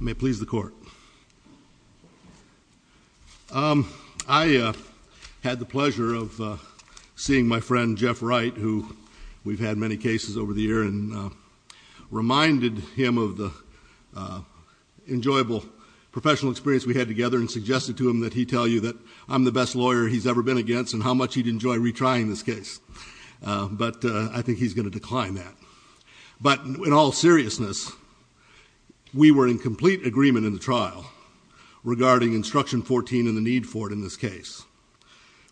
May please the court. I had the pleasure of seeing my friend Jeff Wright who we've had many cases over the year and reminded him of the enjoyable professional experience we had together and suggested to him that he tell you that I'm the best lawyer he's ever been against and how much he'd enjoy retrying this case but I think he's going to decline that. But in all seriousness we were in complete agreement in the trial regarding instruction 14 and the need for it in this case.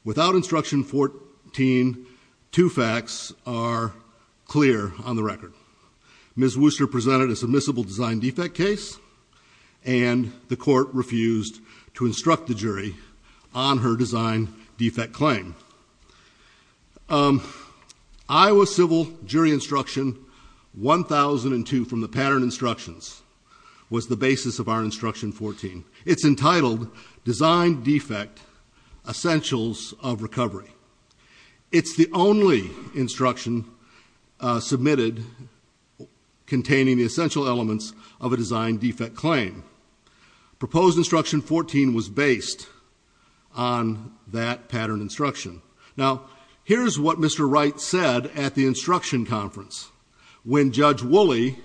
Without instruction 14 two facts are clear on the record. Ms. Wurster presented a submissible design defect case and the court refused to instruct the jury on her design defect claim. Iowa Civil Jury Instruction 1002 from the Pattern Instructions was the basis of our instruction 14. It's entitled Design Defect Essentials of Recovery. It's the only instruction submitted containing the essential elements of a design defect claim. Proposed instruction 14 was based on that pattern instruction. Now here's what Mr. Wright said at the instruction conference when Judge Woolley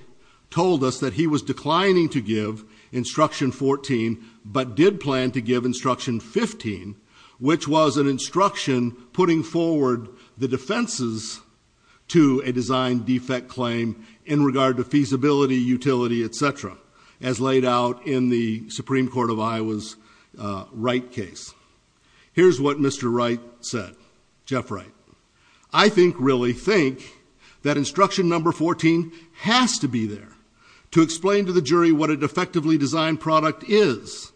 told us that he was declining to give instruction 14 but did plan to give instruction 15 which was an instruction putting forward the defenses to a feasibility utility etc as laid out in the Supreme Court of Iowa's Wright case. Here's what Mr. Wright said, Jeff Wright, I think really think that instruction number 14 has to be there to explain to the jury what a defectively designed product is.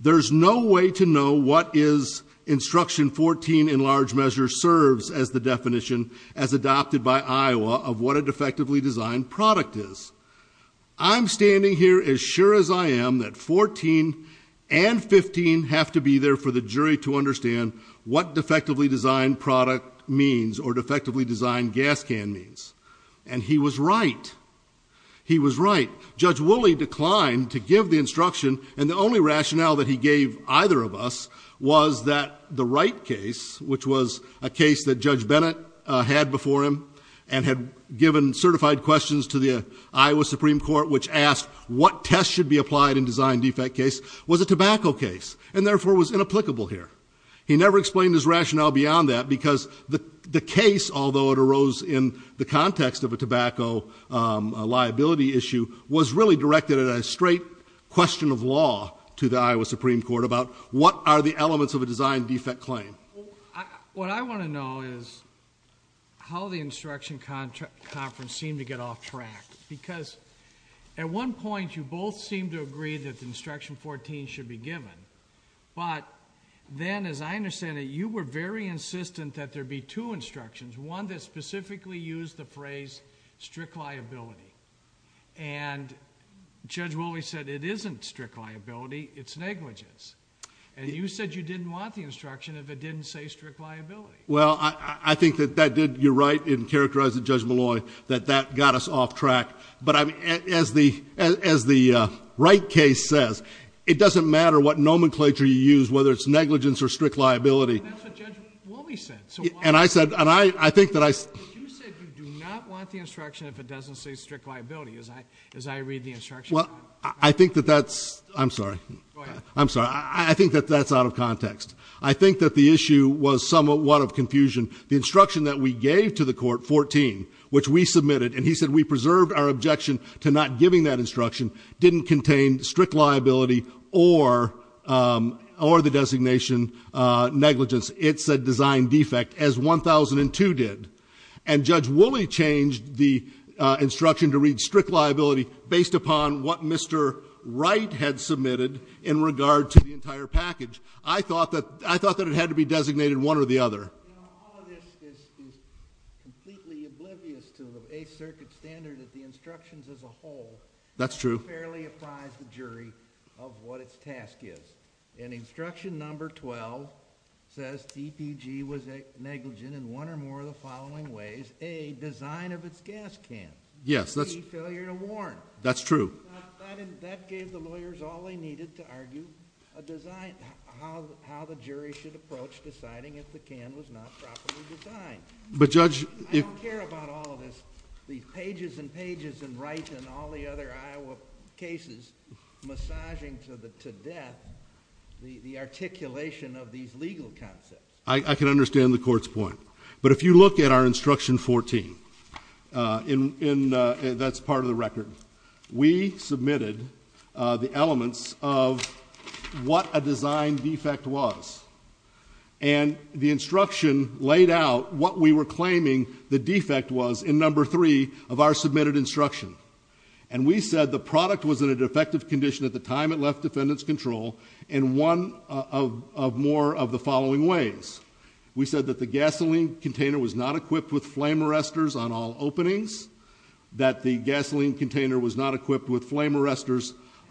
There's no way to know what is instruction 14 in large measure serves as the definition as adopted by Iowa of what a defectively designed product is. I'm standing here as sure as I am that 14 and 15 have to be there for the jury to understand what defectively designed product means or defectively designed gas can means and he was right. He was right. Judge Woolley declined to give the instruction and the only rationale that he gave either of us was that the Wright case which was a case that Judge Bennett had before him and given certified questions to the Iowa Supreme Court which asked what test should be applied in design defect case was a tobacco case and therefore was inapplicable here. He never explained his rationale beyond that because the the case although it arose in the context of a tobacco liability issue was really directed at a straight question of law to the Iowa Supreme Court about what are the elements of a design defect claim. What I want to know is how the instruction conference seemed to get off track because at one point you both seemed to agree that the instruction 14 should be given but then as I understand it you were very insistent that there be two instructions one that specifically used the phrase strict liability and Judge Woolley said it isn't strict liability it's negligence and you said you didn't want the instruction if it didn't say strict liability. As I read the instruction. I'm sorry. I'm sorry. I think that's out of context. I think that the issue was somewhat one of confusion. The instruction that we gave to the court 14, which we submitted, and he said we preserved our objection to not giving that instruction, didn't contain strict liability or the designation negligence. It's a design defect, as 1002 did. And Judge Woolley changed the instruction to read strict liability based upon what Mr. Wright had submitted in regard to the entire package. I thought that it had to be designated one or the other. All of this is completely oblivious to the Eighth Circuit standard, as the instructions as a whole. That's true. Barely apprise the jury of what its task is. And instruction number 12 says DPG was negligent in one or more of the following ways. A, design of its gas can. B, failure to warn. Yes. That's true. That gave the lawyers all they needed to argue a design, how the jury should approach deciding All of this is completely oblivious to the Eighth Circuit standard, as the instructions as a whole. That's true. But, Judge, if... I don't care about all of this. These pages and pages in Wright and all the other Iowa cases, massaging to death the articulation of these legal concepts. I can understand the Court's point. But if you look at our instruction 14, that's part of the record. We submitted the elements of what a design defect was. And the instruction laid out what we were claiming the defect was in number three of our submitted instruction. And we said the product was in a defective condition at the time it left defendant's control in one of more of the following ways. We said that the gasoline container was not equipped with flame arresters...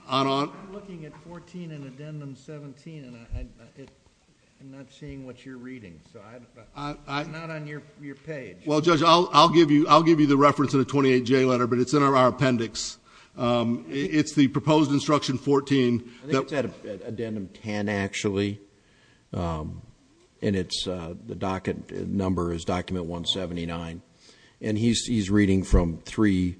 I'm looking at 14 in Addendum 17, and I'm not seeing what you're reading. It's not on your page. Well, Judge, I'll give you the reference in a 28J letter, but it's in our appendix. It's the proposed instruction 14... I think it's at Addendum 10, actually. And the docket number is Document 179. And he's reading from three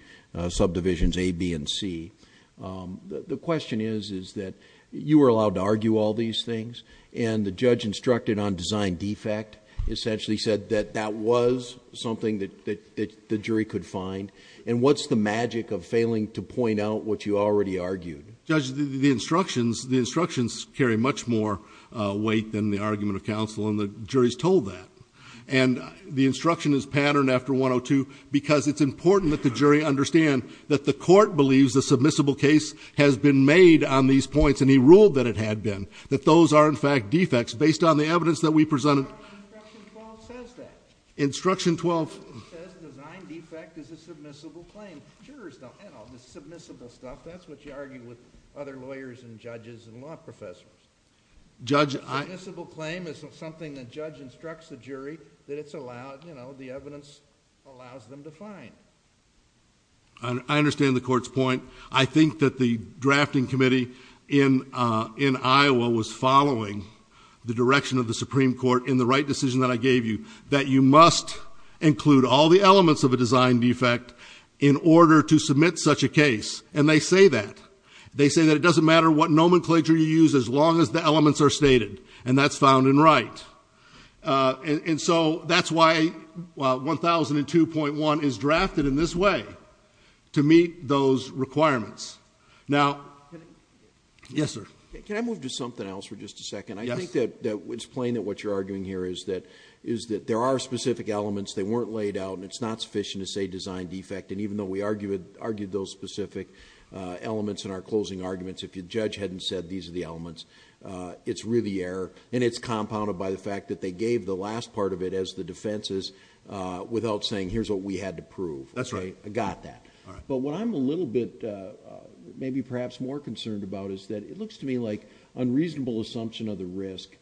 subdivisions, A, B, and C. The question is that you were allowed to argue all these things, and the judge instructed on design defect essentially said that that was something that the jury could find. And what's the magic of failing to point out what you already argued? Judge, the instructions carry much more weight than the argument of counsel, and the jury's And the instruction is patterned after 102, because it's important that the jury understand that the court believes the submissible case has been made on these points, and he ruled that it had been, that those are in fact defects based on the evidence that we presented... Instruction 12 says that. Instruction 12... It says design defect is a submissible claim. Jurors don't handle the submissible stuff. That's what you argue with other lawyers and judges and law professors. Judge, I... I understand the court's point. I think that the drafting committee in Iowa was following the direction of the Supreme Court in the right decision that I gave you, that you must include all the elements of a design defect in order to submit such a case. And they say that. They say that it doesn't matter what nomenclature you use as long as the elements are stated, and that's found in right. And so that's why 1002.1 is drafted in this way to meet those requirements. Now... Yes, sir. Can I move to something else for just a second? Yes. I think that it's plain that what you're arguing here is that there are specific elements that weren't laid out, and it's not sufficient to say design defect. And Judge Haddon said these are the elements. It's really error, and it's compounded by the fact that they gave the last part of it as the defenses without saying here's what we had to prove. That's right. I got that. All right. But what I'm a little bit maybe perhaps more concerned about is that it looks to me like unreasonable assumption of the risk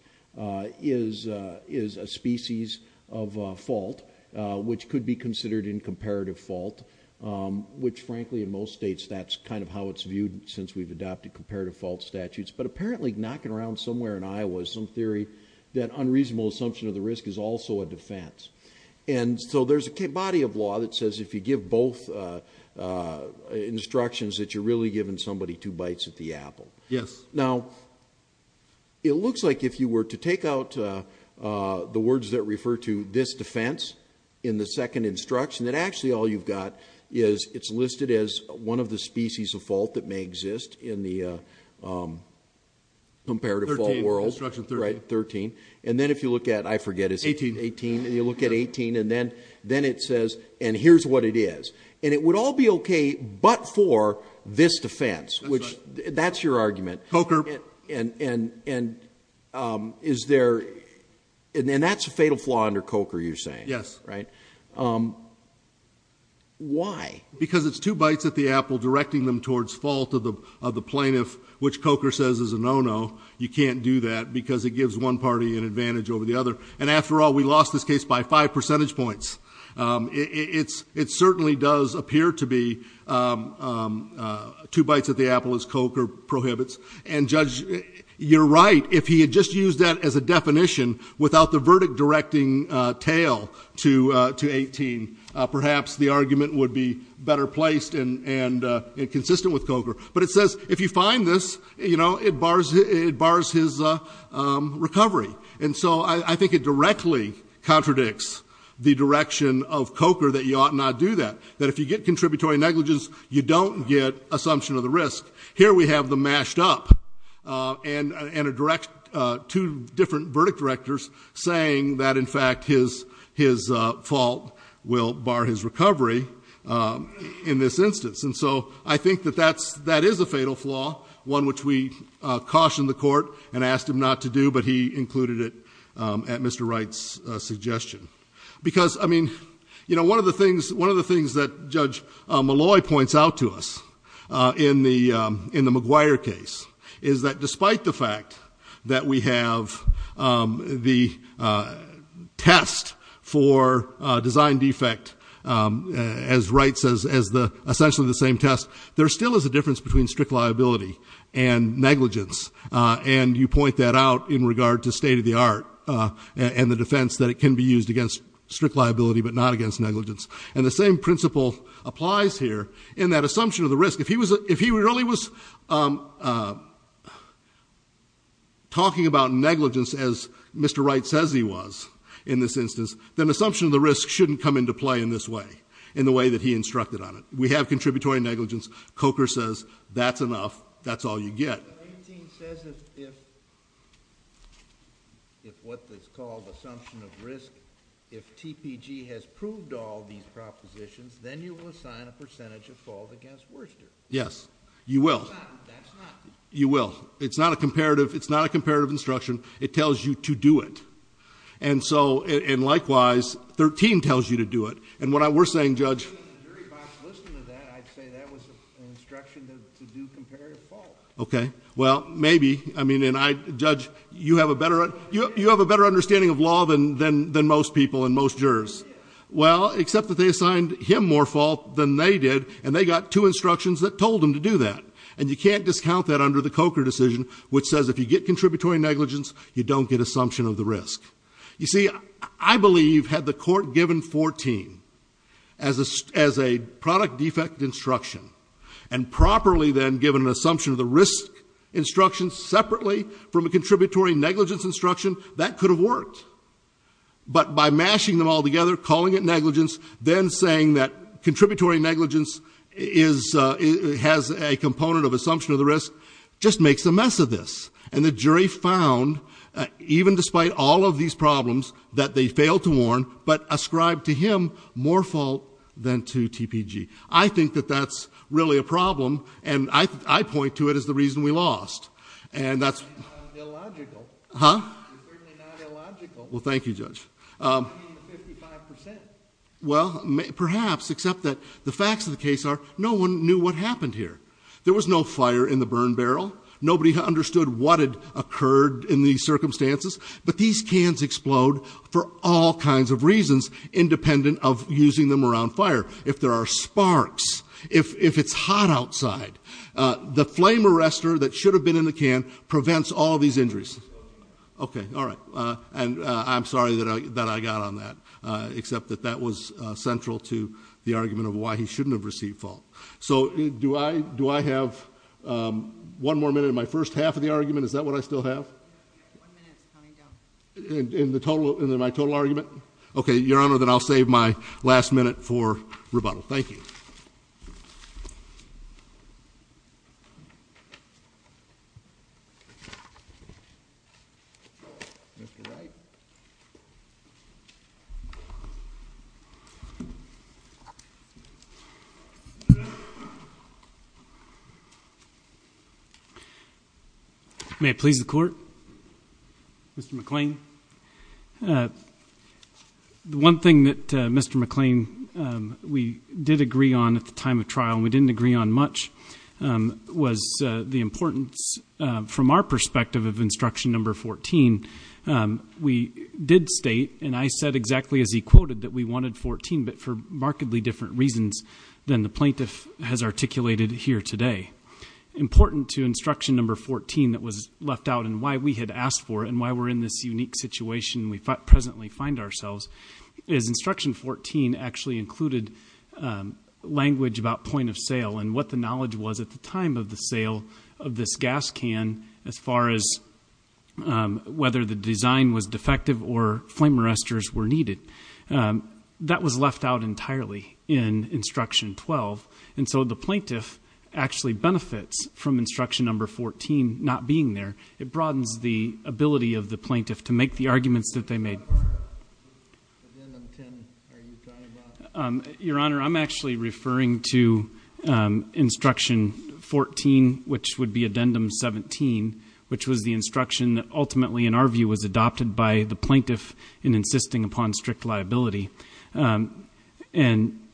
is a species of fault which could be considered in comparative fault, which frankly in most states that's kind of how it's viewed since we've adopted comparative fault statutes. But apparently knocking around somewhere in Iowa is some theory that unreasonable assumption of the risk is also a defense. And so there's a body of law that says if you give both instructions that you're really giving somebody two bites at the apple. Yes. Now, it looks like if you were to take out the words that refer to this defense in the second instruction, that actually all you've got is it's listed as one of the species of fault that may exist in the comparative fault world, right, 13. And then if you look at, I forget, is it 18? Eighteen. Eighteen. And you look at 18, and then it says, and here's what it is. And it would all be okay but for this defense, which that's your argument. Coker. And is there, and that's a fatal flaw under Coker, you're saying, right? Yes. Why? Because it's two bites at the apple directing them towards fault of the plaintiff, which Coker says is a no-no. You can't do that because it gives one party an advantage over the other. And after all, we lost this case by five percentage points. It certainly does appear to be two bites at the apple, as Coker prohibits. And Judge, you're right. If he had just used that as a definition without the verdict directing tail to 18, perhaps the argument would be better placed and consistent with Coker. But it says if you find this, you know, it bars his recovery. And so I think it directly contradicts the direction of Coker that you ought not do that, that if you get contributory negligence, you don't get assumption of the risk. Here we have them mashed up and two different verdict directors saying that, in fact, his fault will bar his recovery in this instance. And so I think that that is a fatal flaw, one which we cautioned the court and asked him not to do, but he included it at Mr. Wright's suggestion. Because, I mean, you know, one of the things that Judge Malloy points out to us in the McGuire case is that despite the fact that we have the test for design defect as Wright says, as essentially the same test, there still is a difference between strict liability and negligence. And you point that out in regard to state of the art and the defense that it can be used against strict liability but not against negligence. And the same principle applies here in that assumption of the risk. If he really was talking about negligence as Mr. Wright says he was in this instance, then assumption of the risk shouldn't come into play in this way, in the way that he instructed on it. We have contributory negligence. Coker says that's enough, that's all you get. But 18 says if what is called assumption of risk, if TPG has proved all these propositions, then you will assign a percentage of fault against Worcester. Yes, you will. That's not. You will. It's not a comparative instruction. It tells you to do it. And likewise, 13 tells you to do it. And what we're saying, Judge. If the jury box listened to that, I'd say that was an instruction to do comparative fault. Okay. Well, maybe. I mean, Judge, you have a better understanding of law than most people and most jurors. I did. Well, except that they assigned him more fault than they did, and they got two instructions that told them to do that. And you can't discount that under the Coker decision, which says if you get contributory negligence, you don't get assumption of the risk. You see, I believe had the court given 14 as a product defect instruction and properly then given an assumption of the risk instruction separately from a contributory negligence instruction, that could have worked. But by mashing them all together, calling it negligence, then saying that contributory negligence has a component of assumption of the risk, just makes a mess of this. And the jury found, even despite all of these problems, that they failed to warn, but ascribed to him more fault than to TPG. I think that that's really a problem, and I point to it as the reason we lost. And that's illogical. Huh? It's certainly not illogical. Well, thank you, Judge. I mean, 55%. Well, perhaps, except that the facts of the case are no one knew what happened here. There was no fire in the burn barrel. Nobody understood what had occurred in these circumstances. But these cans explode for all kinds of reasons, independent of using them around fire. If there are sparks, if it's hot outside. The flame arrester that should have been in the can prevents all these injuries. Okay, all right. And I'm sorry that I got on that, except that that was central to the argument of why he shouldn't have received fault. So, do I have one more minute in my first half of the argument? Is that what I still have? One minute's coming down. In my total argument? Okay, Your Honor, then I'll save my last minute for rebuttal. Thank you. Mr. Wright. May it please the court? Mr. McClain. The one thing that Mr. McClain, we did agree on at the time of trial, and we didn't agree on much, was the importance from our perspective of instruction number 14. We did state, and I said exactly as he quoted, that we wanted 14, but for markedly different reasons than the plaintiff has articulated here today. Important to instruction number 14 that was left out, and why we had asked for it, and why we're in this unique situation we presently find ourselves, is instruction 14 actually included language about point of sale, and what the knowledge was at the time of the sale of this gas can, as far as whether the design was defective or flame arresters were needed. That was left out entirely in instruction 12, and so the plaintiff actually benefits from instruction number 14 not being there. It broadens the ability of the plaintiff to make the arguments that they made. Your Honor, I'm actually referring to instruction 14, which would be addendum 17, which was the instruction that ultimately, in our view, was adopted by the plaintiff in insisting upon strict liability. And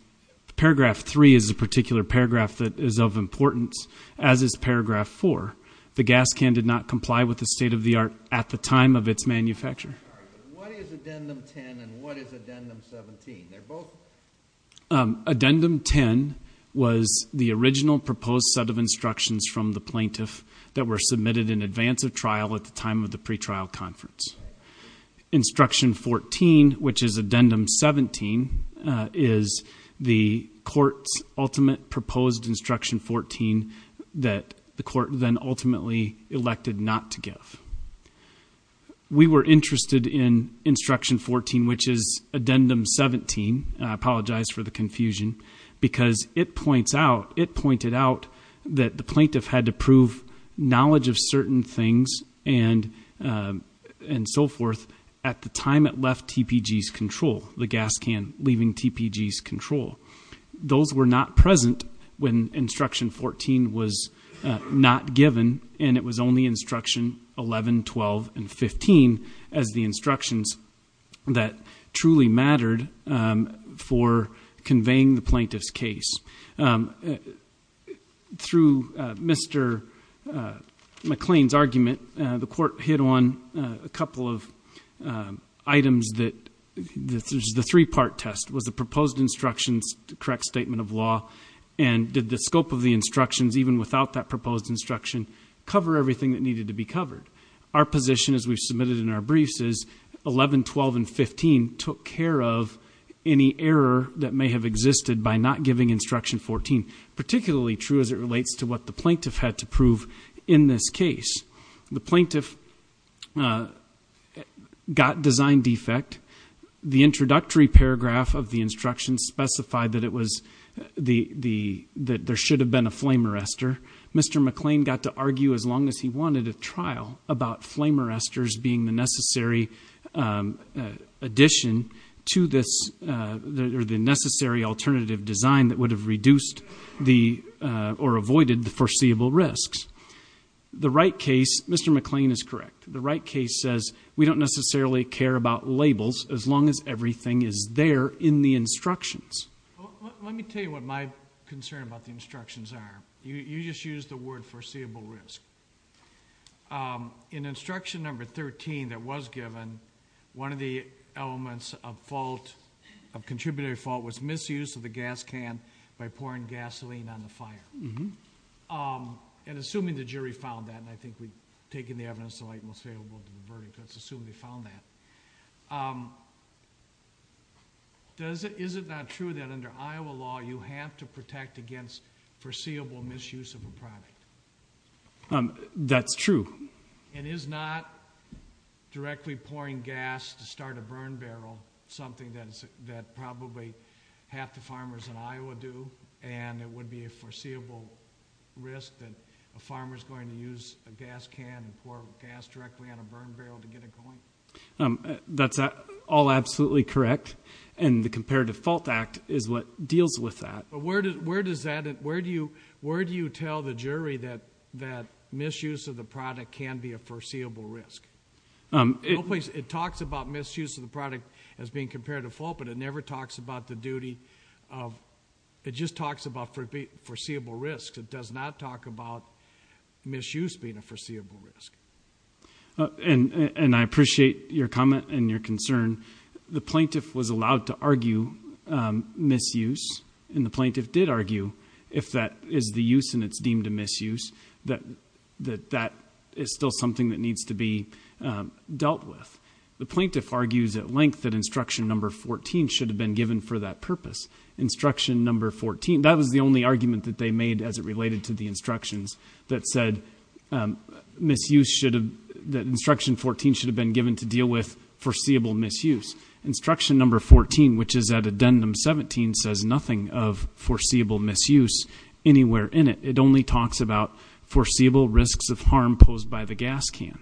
paragraph three is a particular paragraph that is of importance, as is paragraph four. The gas can did not comply with the state of the art at the time of its manufacture. What is addendum 10, and what is addendum 17? They're both? Addendum 10 was the original proposed set of instructions from the plaintiff that were submitted in advance of trial at the time of the pretrial conference. Instruction 14, which is addendum 17, is the court's ultimate proposed instruction 14 that the court then ultimately elected not to give. We were interested in instruction 14, which is addendum 17, and I apologize for the confusion, because it pointed out that the plaintiff had to acknowledge of certain things and so forth at the time it left TPG's control. The gas can leaving TPG's control. Those were not present when instruction 14 was not given, and it was only instruction 11, 12, and 15 as the instructions that truly mattered for conveying the plaintiff's case. Through Mr. McLean's argument, the court hit on a couple of items that, this is the three part test, was the proposed instructions the correct statement of law? And did the scope of the instructions, even without that proposed instruction, cover everything that needed to be covered? Our position, as we've submitted in our briefs, is 11, 12, and the instruction 14, particularly true as it relates to what the plaintiff had to prove in this case. The plaintiff got design defect. The introductory paragraph of the instruction specified that there should have been a flame arrestor. Mr. McLean got to argue as long as he wanted a trial about flame arrestors being the necessary addition to this, or the necessary alternative design that would have reduced the, or avoided the foreseeable risks. The right case, Mr. McLean is correct, the right case says we don't necessarily care about labels as long as everything is there in the instructions. Let me tell you what my concern about the instructions are. You just used the word foreseeable risk. In instruction number 13 that was given, one of the elements of fault, of contributory fault, was misuse of the gas can by pouring gasoline on the fire. And assuming the jury found that, and I think we've taken the evidence to light and we'll say we'll go to the verdict, let's assume they found that. Is it not true that under Iowa law, you have to protect against foreseeable misuse of a product? That's true. And is not directly pouring gas to start a burn barrel something that probably half the farmers in Iowa do? And it would be a foreseeable risk that a farmer's going to use a gas can and pour gas directly on a burn barrel to get it going? That's all absolutely correct. And the Comparative Fault Act is what deals with that. Where do you tell the jury that misuse of the product can be a foreseeable risk? It talks about misuse of the product as being comparative fault, but it never talks about the duty of, it just talks about foreseeable risk. It does not talk about misuse being a foreseeable risk. And I appreciate your comment and your concern. The plaintiff was allowed to argue misuse. And the plaintiff did argue, if that is the use and it's deemed a misuse, that that is still something that needs to be dealt with. The plaintiff argues at length that instruction number 14 should have been given for that purpose. Instruction number 14, that was the only argument that they made as it related to the instructions, that said that instruction 14 should have been given to deal with foreseeable misuse. Instruction number 14, which is at addendum 17, says nothing of foreseeable misuse anywhere in it. It only talks about foreseeable risks of harm posed by the gas can,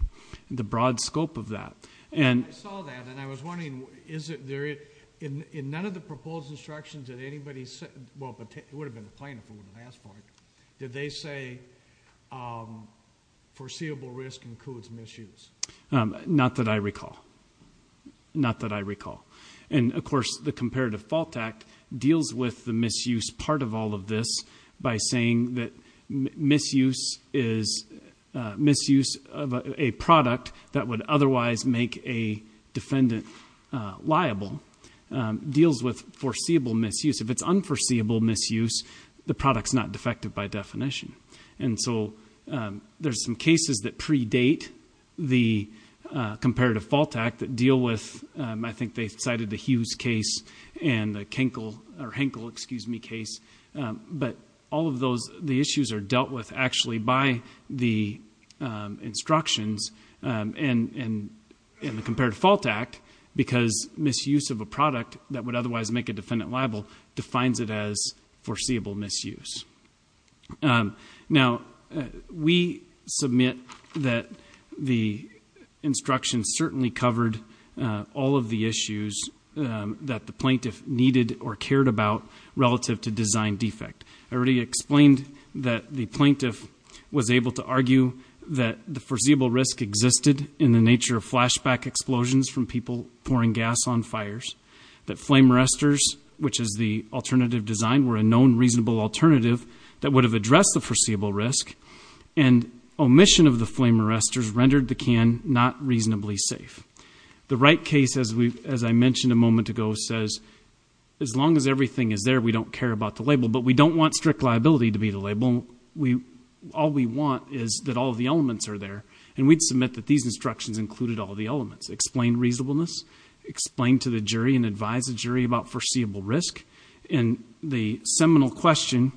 the broad scope of that. I saw that and I was wondering, in none of the proposed instructions did anybody say, well, it would have been the plaintiff who would have asked for it, did they say foreseeable risk includes misuse? Not that I recall. Not that I recall. And, of course, the Comparative Fault Act deals with the misuse part of all of this by saying that misuse of a product that would otherwise make a defendant liable deals with foreseeable misuse. If it's unforeseeable misuse, the product's not defective by definition. And so there's some cases that predate the Comparative Fault Act that deal with, I think they cited the Hughes case and the Henkel case, but all of the issues are dealt with actually by the instructions in the Comparative Fault Act because misuse of a product that would otherwise make a defendant liable defines it as foreseeable misuse. Now, we submit that the instructions certainly covered all of the issues that the plaintiff needed or cared about relative to design defect. I already explained that the plaintiff was able to argue that the foreseeable risk existed in the nature of flashback explosions from people pouring gas on fires, that flame arrestors, which is the alternative design, were a known reasonable alternative that would have addressed the foreseeable risk, and omission of the flame arrestors rendered the can not reasonably safe. The Wright case, as I mentioned a moment ago, says, as long as everything is there, we don't care about the label, but we don't want strict liability to be the label. All we want is that all of the elements are there. And we'd submit that these instructions included all of the elements, explain reasonableness, explain to the jury and advise the jury about foreseeable risk, and the seminal question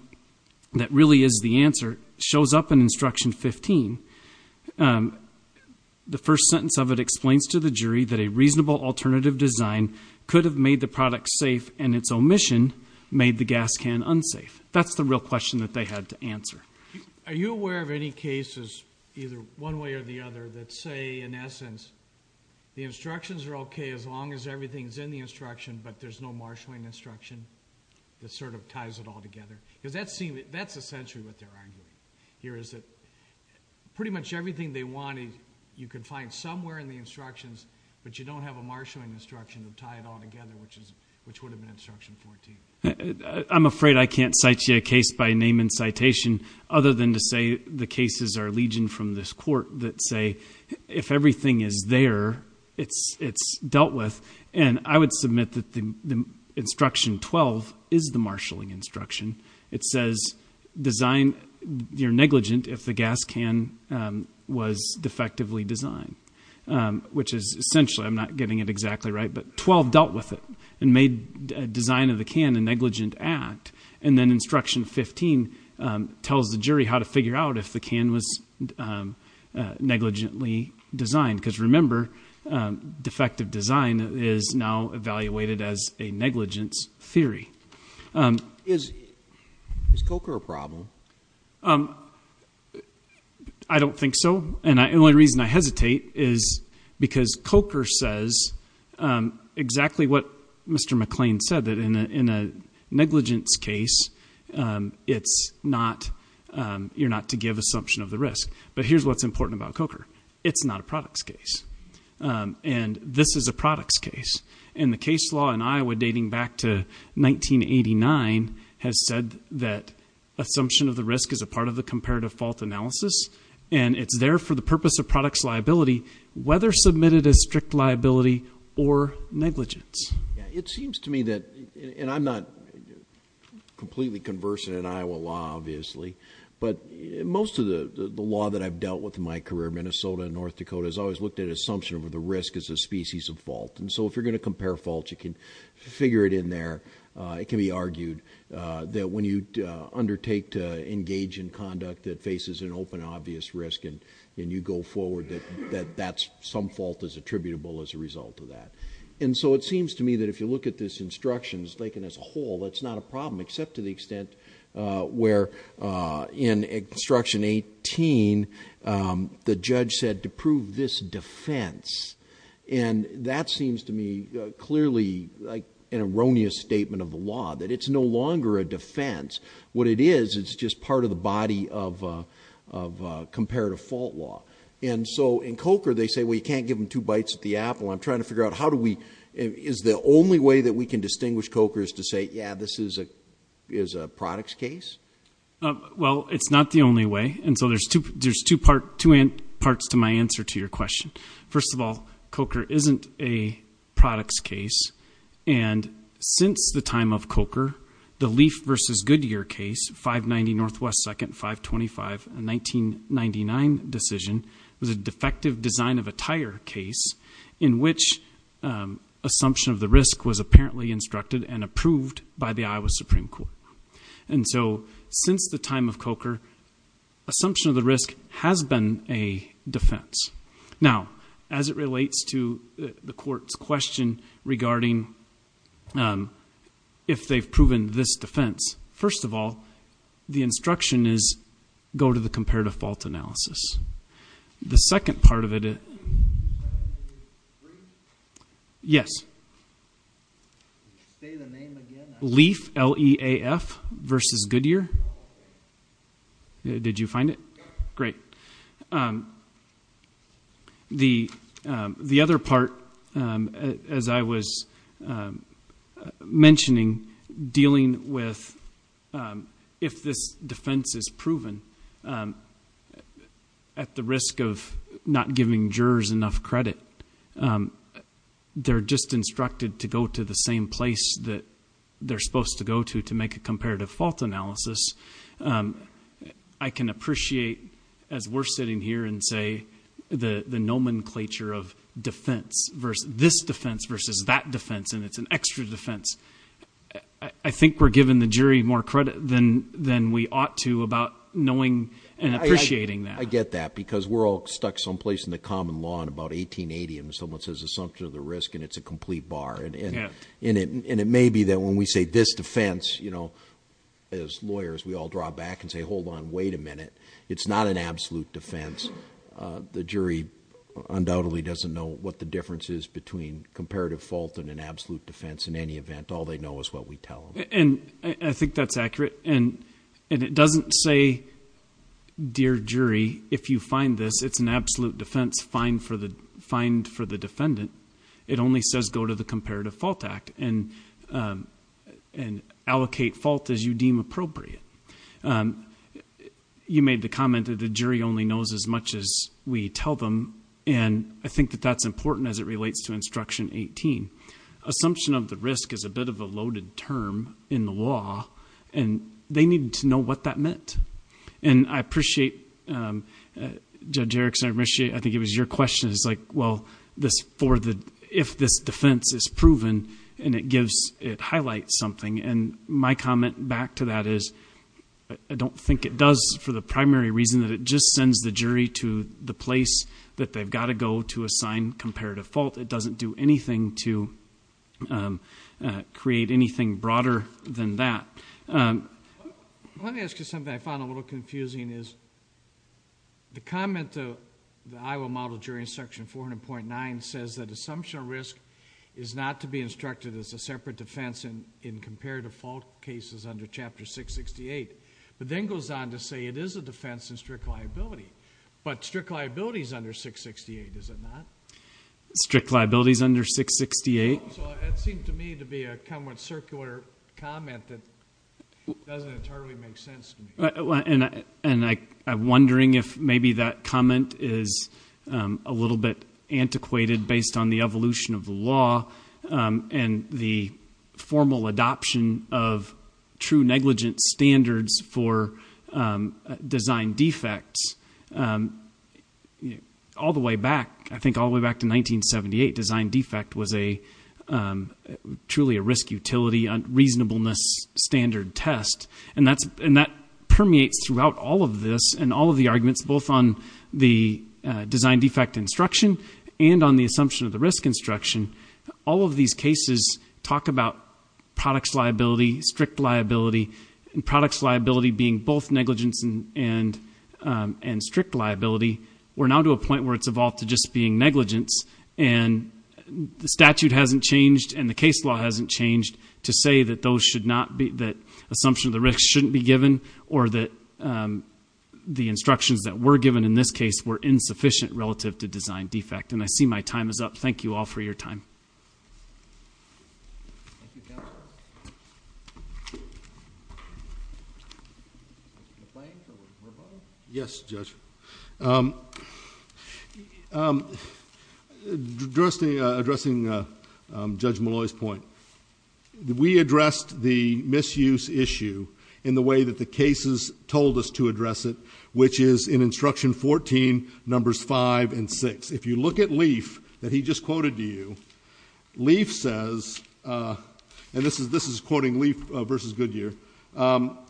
that really is the answer shows up in Instruction 15. The first sentence of it explains to the jury that a reasonable alternative design could have made the product safe and its omission made the gas can unsafe. That's the real question that they had to answer. Are you aware of any cases, either one way or the other, that say, in essence, the instructions are okay as long as everything is in the instruction, but there's no marshalling instruction that sort of ties it all together? Because that's essentially what they're arguing here, is that pretty much everything they wanted you could find somewhere in the instructions, but you don't have a marshalling instruction to tie it all together, which would have been Instruction 14. I'm afraid I can't cite you a case by name and citation other than to say the cases are legion from this court that say, if everything is there, it's dealt with. And I would submit that Instruction 12 is the marshalling instruction. It says you're negligent if the gas can was defectively designed, which is essentially, I'm not getting it exactly right, but 12 dealt with it and made design of the can a negligent act, and then Instruction 15 tells the jury how to figure out if the can was negligently designed. Because remember, defective design is now evaluated as a negligence theory. Is COCR a problem? I don't think so. And the only reason I hesitate is because COCR says exactly what Mr. McLean said, that in a negligence case, you're not to give assumption of the risk. But here's what's important about COCR. It's not a products case. And this is a products case. And the case law in Iowa dating back to 1989 has said that assumption of the risk is a part of the comparative fault analysis, and it's there for the purpose of products liability, whether submitted as strict liability or negligence. It seems to me that, and I'm not completely conversant in Iowa law, obviously, but most of the law that I've dealt with in my career, Minnesota and North Dakota, has always looked at assumption of the risk as a species of fault. And so if you're going to compare faults, you can figure it in there. It can be argued that when you undertake to engage in conduct that faces an open, obvious risk, and you go forward, that some fault is attributable as a result of that. And so it seems to me that if you look at this instruction as a whole, that's not a problem, except to the extent where in Instruction 18, the judge said to prove this defense. And that seems to me clearly like an erroneous statement of the law, that it's no longer a defense. What it is, it's just part of the body of comparative fault law. And so in COCR, they say, well, you can't give them two bites at the apple. I'm trying to figure out how do we, is the only way that we can distinguish COCR is to say, yeah, this is a products case? Well, it's not the only way. And so there's two parts to my answer to your question. First of all, COCR isn't a products case. And since the time of COCR, the Leaf v. Goodyear case, 590 Northwest 2nd, 525, a 1999 decision, was a defective design of a tire case in which assumption of the risk was apparently instructed and approved by the Iowa Supreme Court. And so since the time of COCR, assumption of the risk has been a defense. Now, as it relates to the court's question regarding if they've proven this defense, first of all, the instruction is go to the comparative fault analysis. The second part of it... Yes. Leaf, L-E-A-F, v. Goodyear? Did you find it? Great. The other part, as I was mentioning, dealing with if this defense is proven at the risk of not giving jurors enough credit, they're just instructed to go to the same place that they're supposed to go to to make a comparative fault analysis. I can appreciate, as we're sitting here and say, the nomenclature of defense, this defense versus that defense, and it's an extra defense. I think we're giving the jury more credit than we ought to about knowing and appreciating that. I get that, because we're all stuck someplace in the common law in about 1880 and someone says assumption of the risk, and it's a complete bar. And it may be that when we say this defense, as lawyers, we all draw back and say, hold on, wait a minute. It's not an absolute defense. The jury undoubtedly doesn't know what the difference is between comparative fault and an absolute defense in any event. All they know is what we tell them. And I think that's accurate. And it doesn't say, dear jury, if you find this, it's an absolute defense, find for the defendant. It only says go to the Comparative Fault Act and allocate fault as you deem appropriate. You made the comment that the jury only knows as much as we tell them, and I think that that's important as it relates to Instruction 18. Assumption of the risk is a bit of a loaded term in the law, and they needed to know what that meant. And I appreciate, Judge Erickson, I think it was your question, it's like, well, if this defense is proven and it highlights something, and my comment back to that is, I don't think it does for the primary reason that it just sends the jury to the place that they've got to go to assign comparative fault. It doesn't do anything to create anything broader than that. Let me ask you something I found a little confusing. The comment to the Iowa Model Jury Instruction 400.9 says that assumption of risk is not to be instructed as a separate defense in comparative fault cases under Chapter 668, but then goes on to say it is a defense in strict liability, but strict liability is under 668, is it not? Strict liability is under 668? That seemed to me to be a somewhat circular comment that doesn't entirely make sense to me. And I'm wondering if maybe that comment is a little bit antiquated based on the evolution of the law and the formal adoption of true negligence standards for design defects. All the way back, I think all the way back to 1978, design defect was truly a risk-utility, reasonableness standard test, and that permeates throughout all of this and all of the arguments both on the design defect instruction and on the assumption of the risk instruction. All of these cases talk about products liability, strict liability, and products liability being both negligence and strict liability. We're now to a point where it's evolved to just being negligence, and the statute hasn't changed and the case law hasn't changed to say that those should not be, that assumption of the risk shouldn't be given or that the instructions that were given in this case were insufficient relative to design defect. And I see my time is up. Thank you all for your time. Thank you, counsel. Complaints or rebuttals? Yes, Judge. Addressing Judge Malloy's point, we addressed the misuse issue in the way that the cases told us to address it, which is in Instruction 14, Numbers 5 and 6. If you look at Leif, that he just quoted to you, Leif says, and this is quoting Leif v. Goodyear,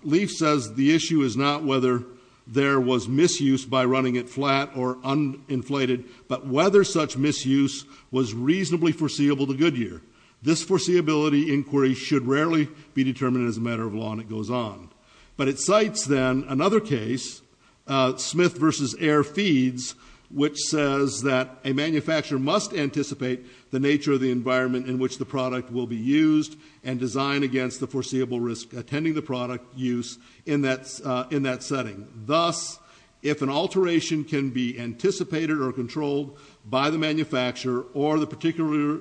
Leif says the issue is not whether there was misuse by running it flat or uninflated, but whether such misuse was reasonably foreseeable to Goodyear. This foreseeability inquiry should rarely be determined as a matter of law, and it goes on. But it cites, then, another case, Smith v. Air Feeds, which says that a manufacturer must anticipate the nature of the environment in which the product will be used and design against the foreseeable risk attending the product use in that setting. Thus, if an alteration can be anticipated or controlled by the manufacturer or the particular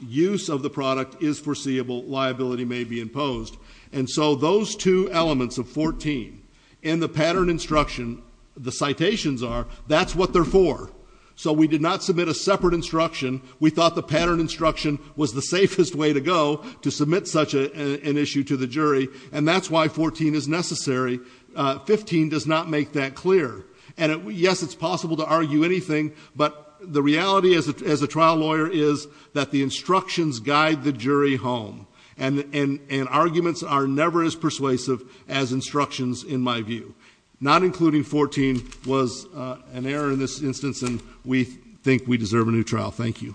use of the product is foreseeable, liability may be imposed. And so those two elements of 14 in the pattern instruction, the citations are, that's what they're for. So we did not submit a separate instruction. We thought the pattern instruction was the safest way to go to submit such an issue to the jury, and that's why 14 is necessary. 15 does not make that clear. And, yes, it's possible to argue anything, but the reality as a trial lawyer is that the instructions guide the jury home, and arguments are never as persuasive as instructions, in my view. Not including 14 was an error in this instance, and we think we deserve a new trial. Thank you.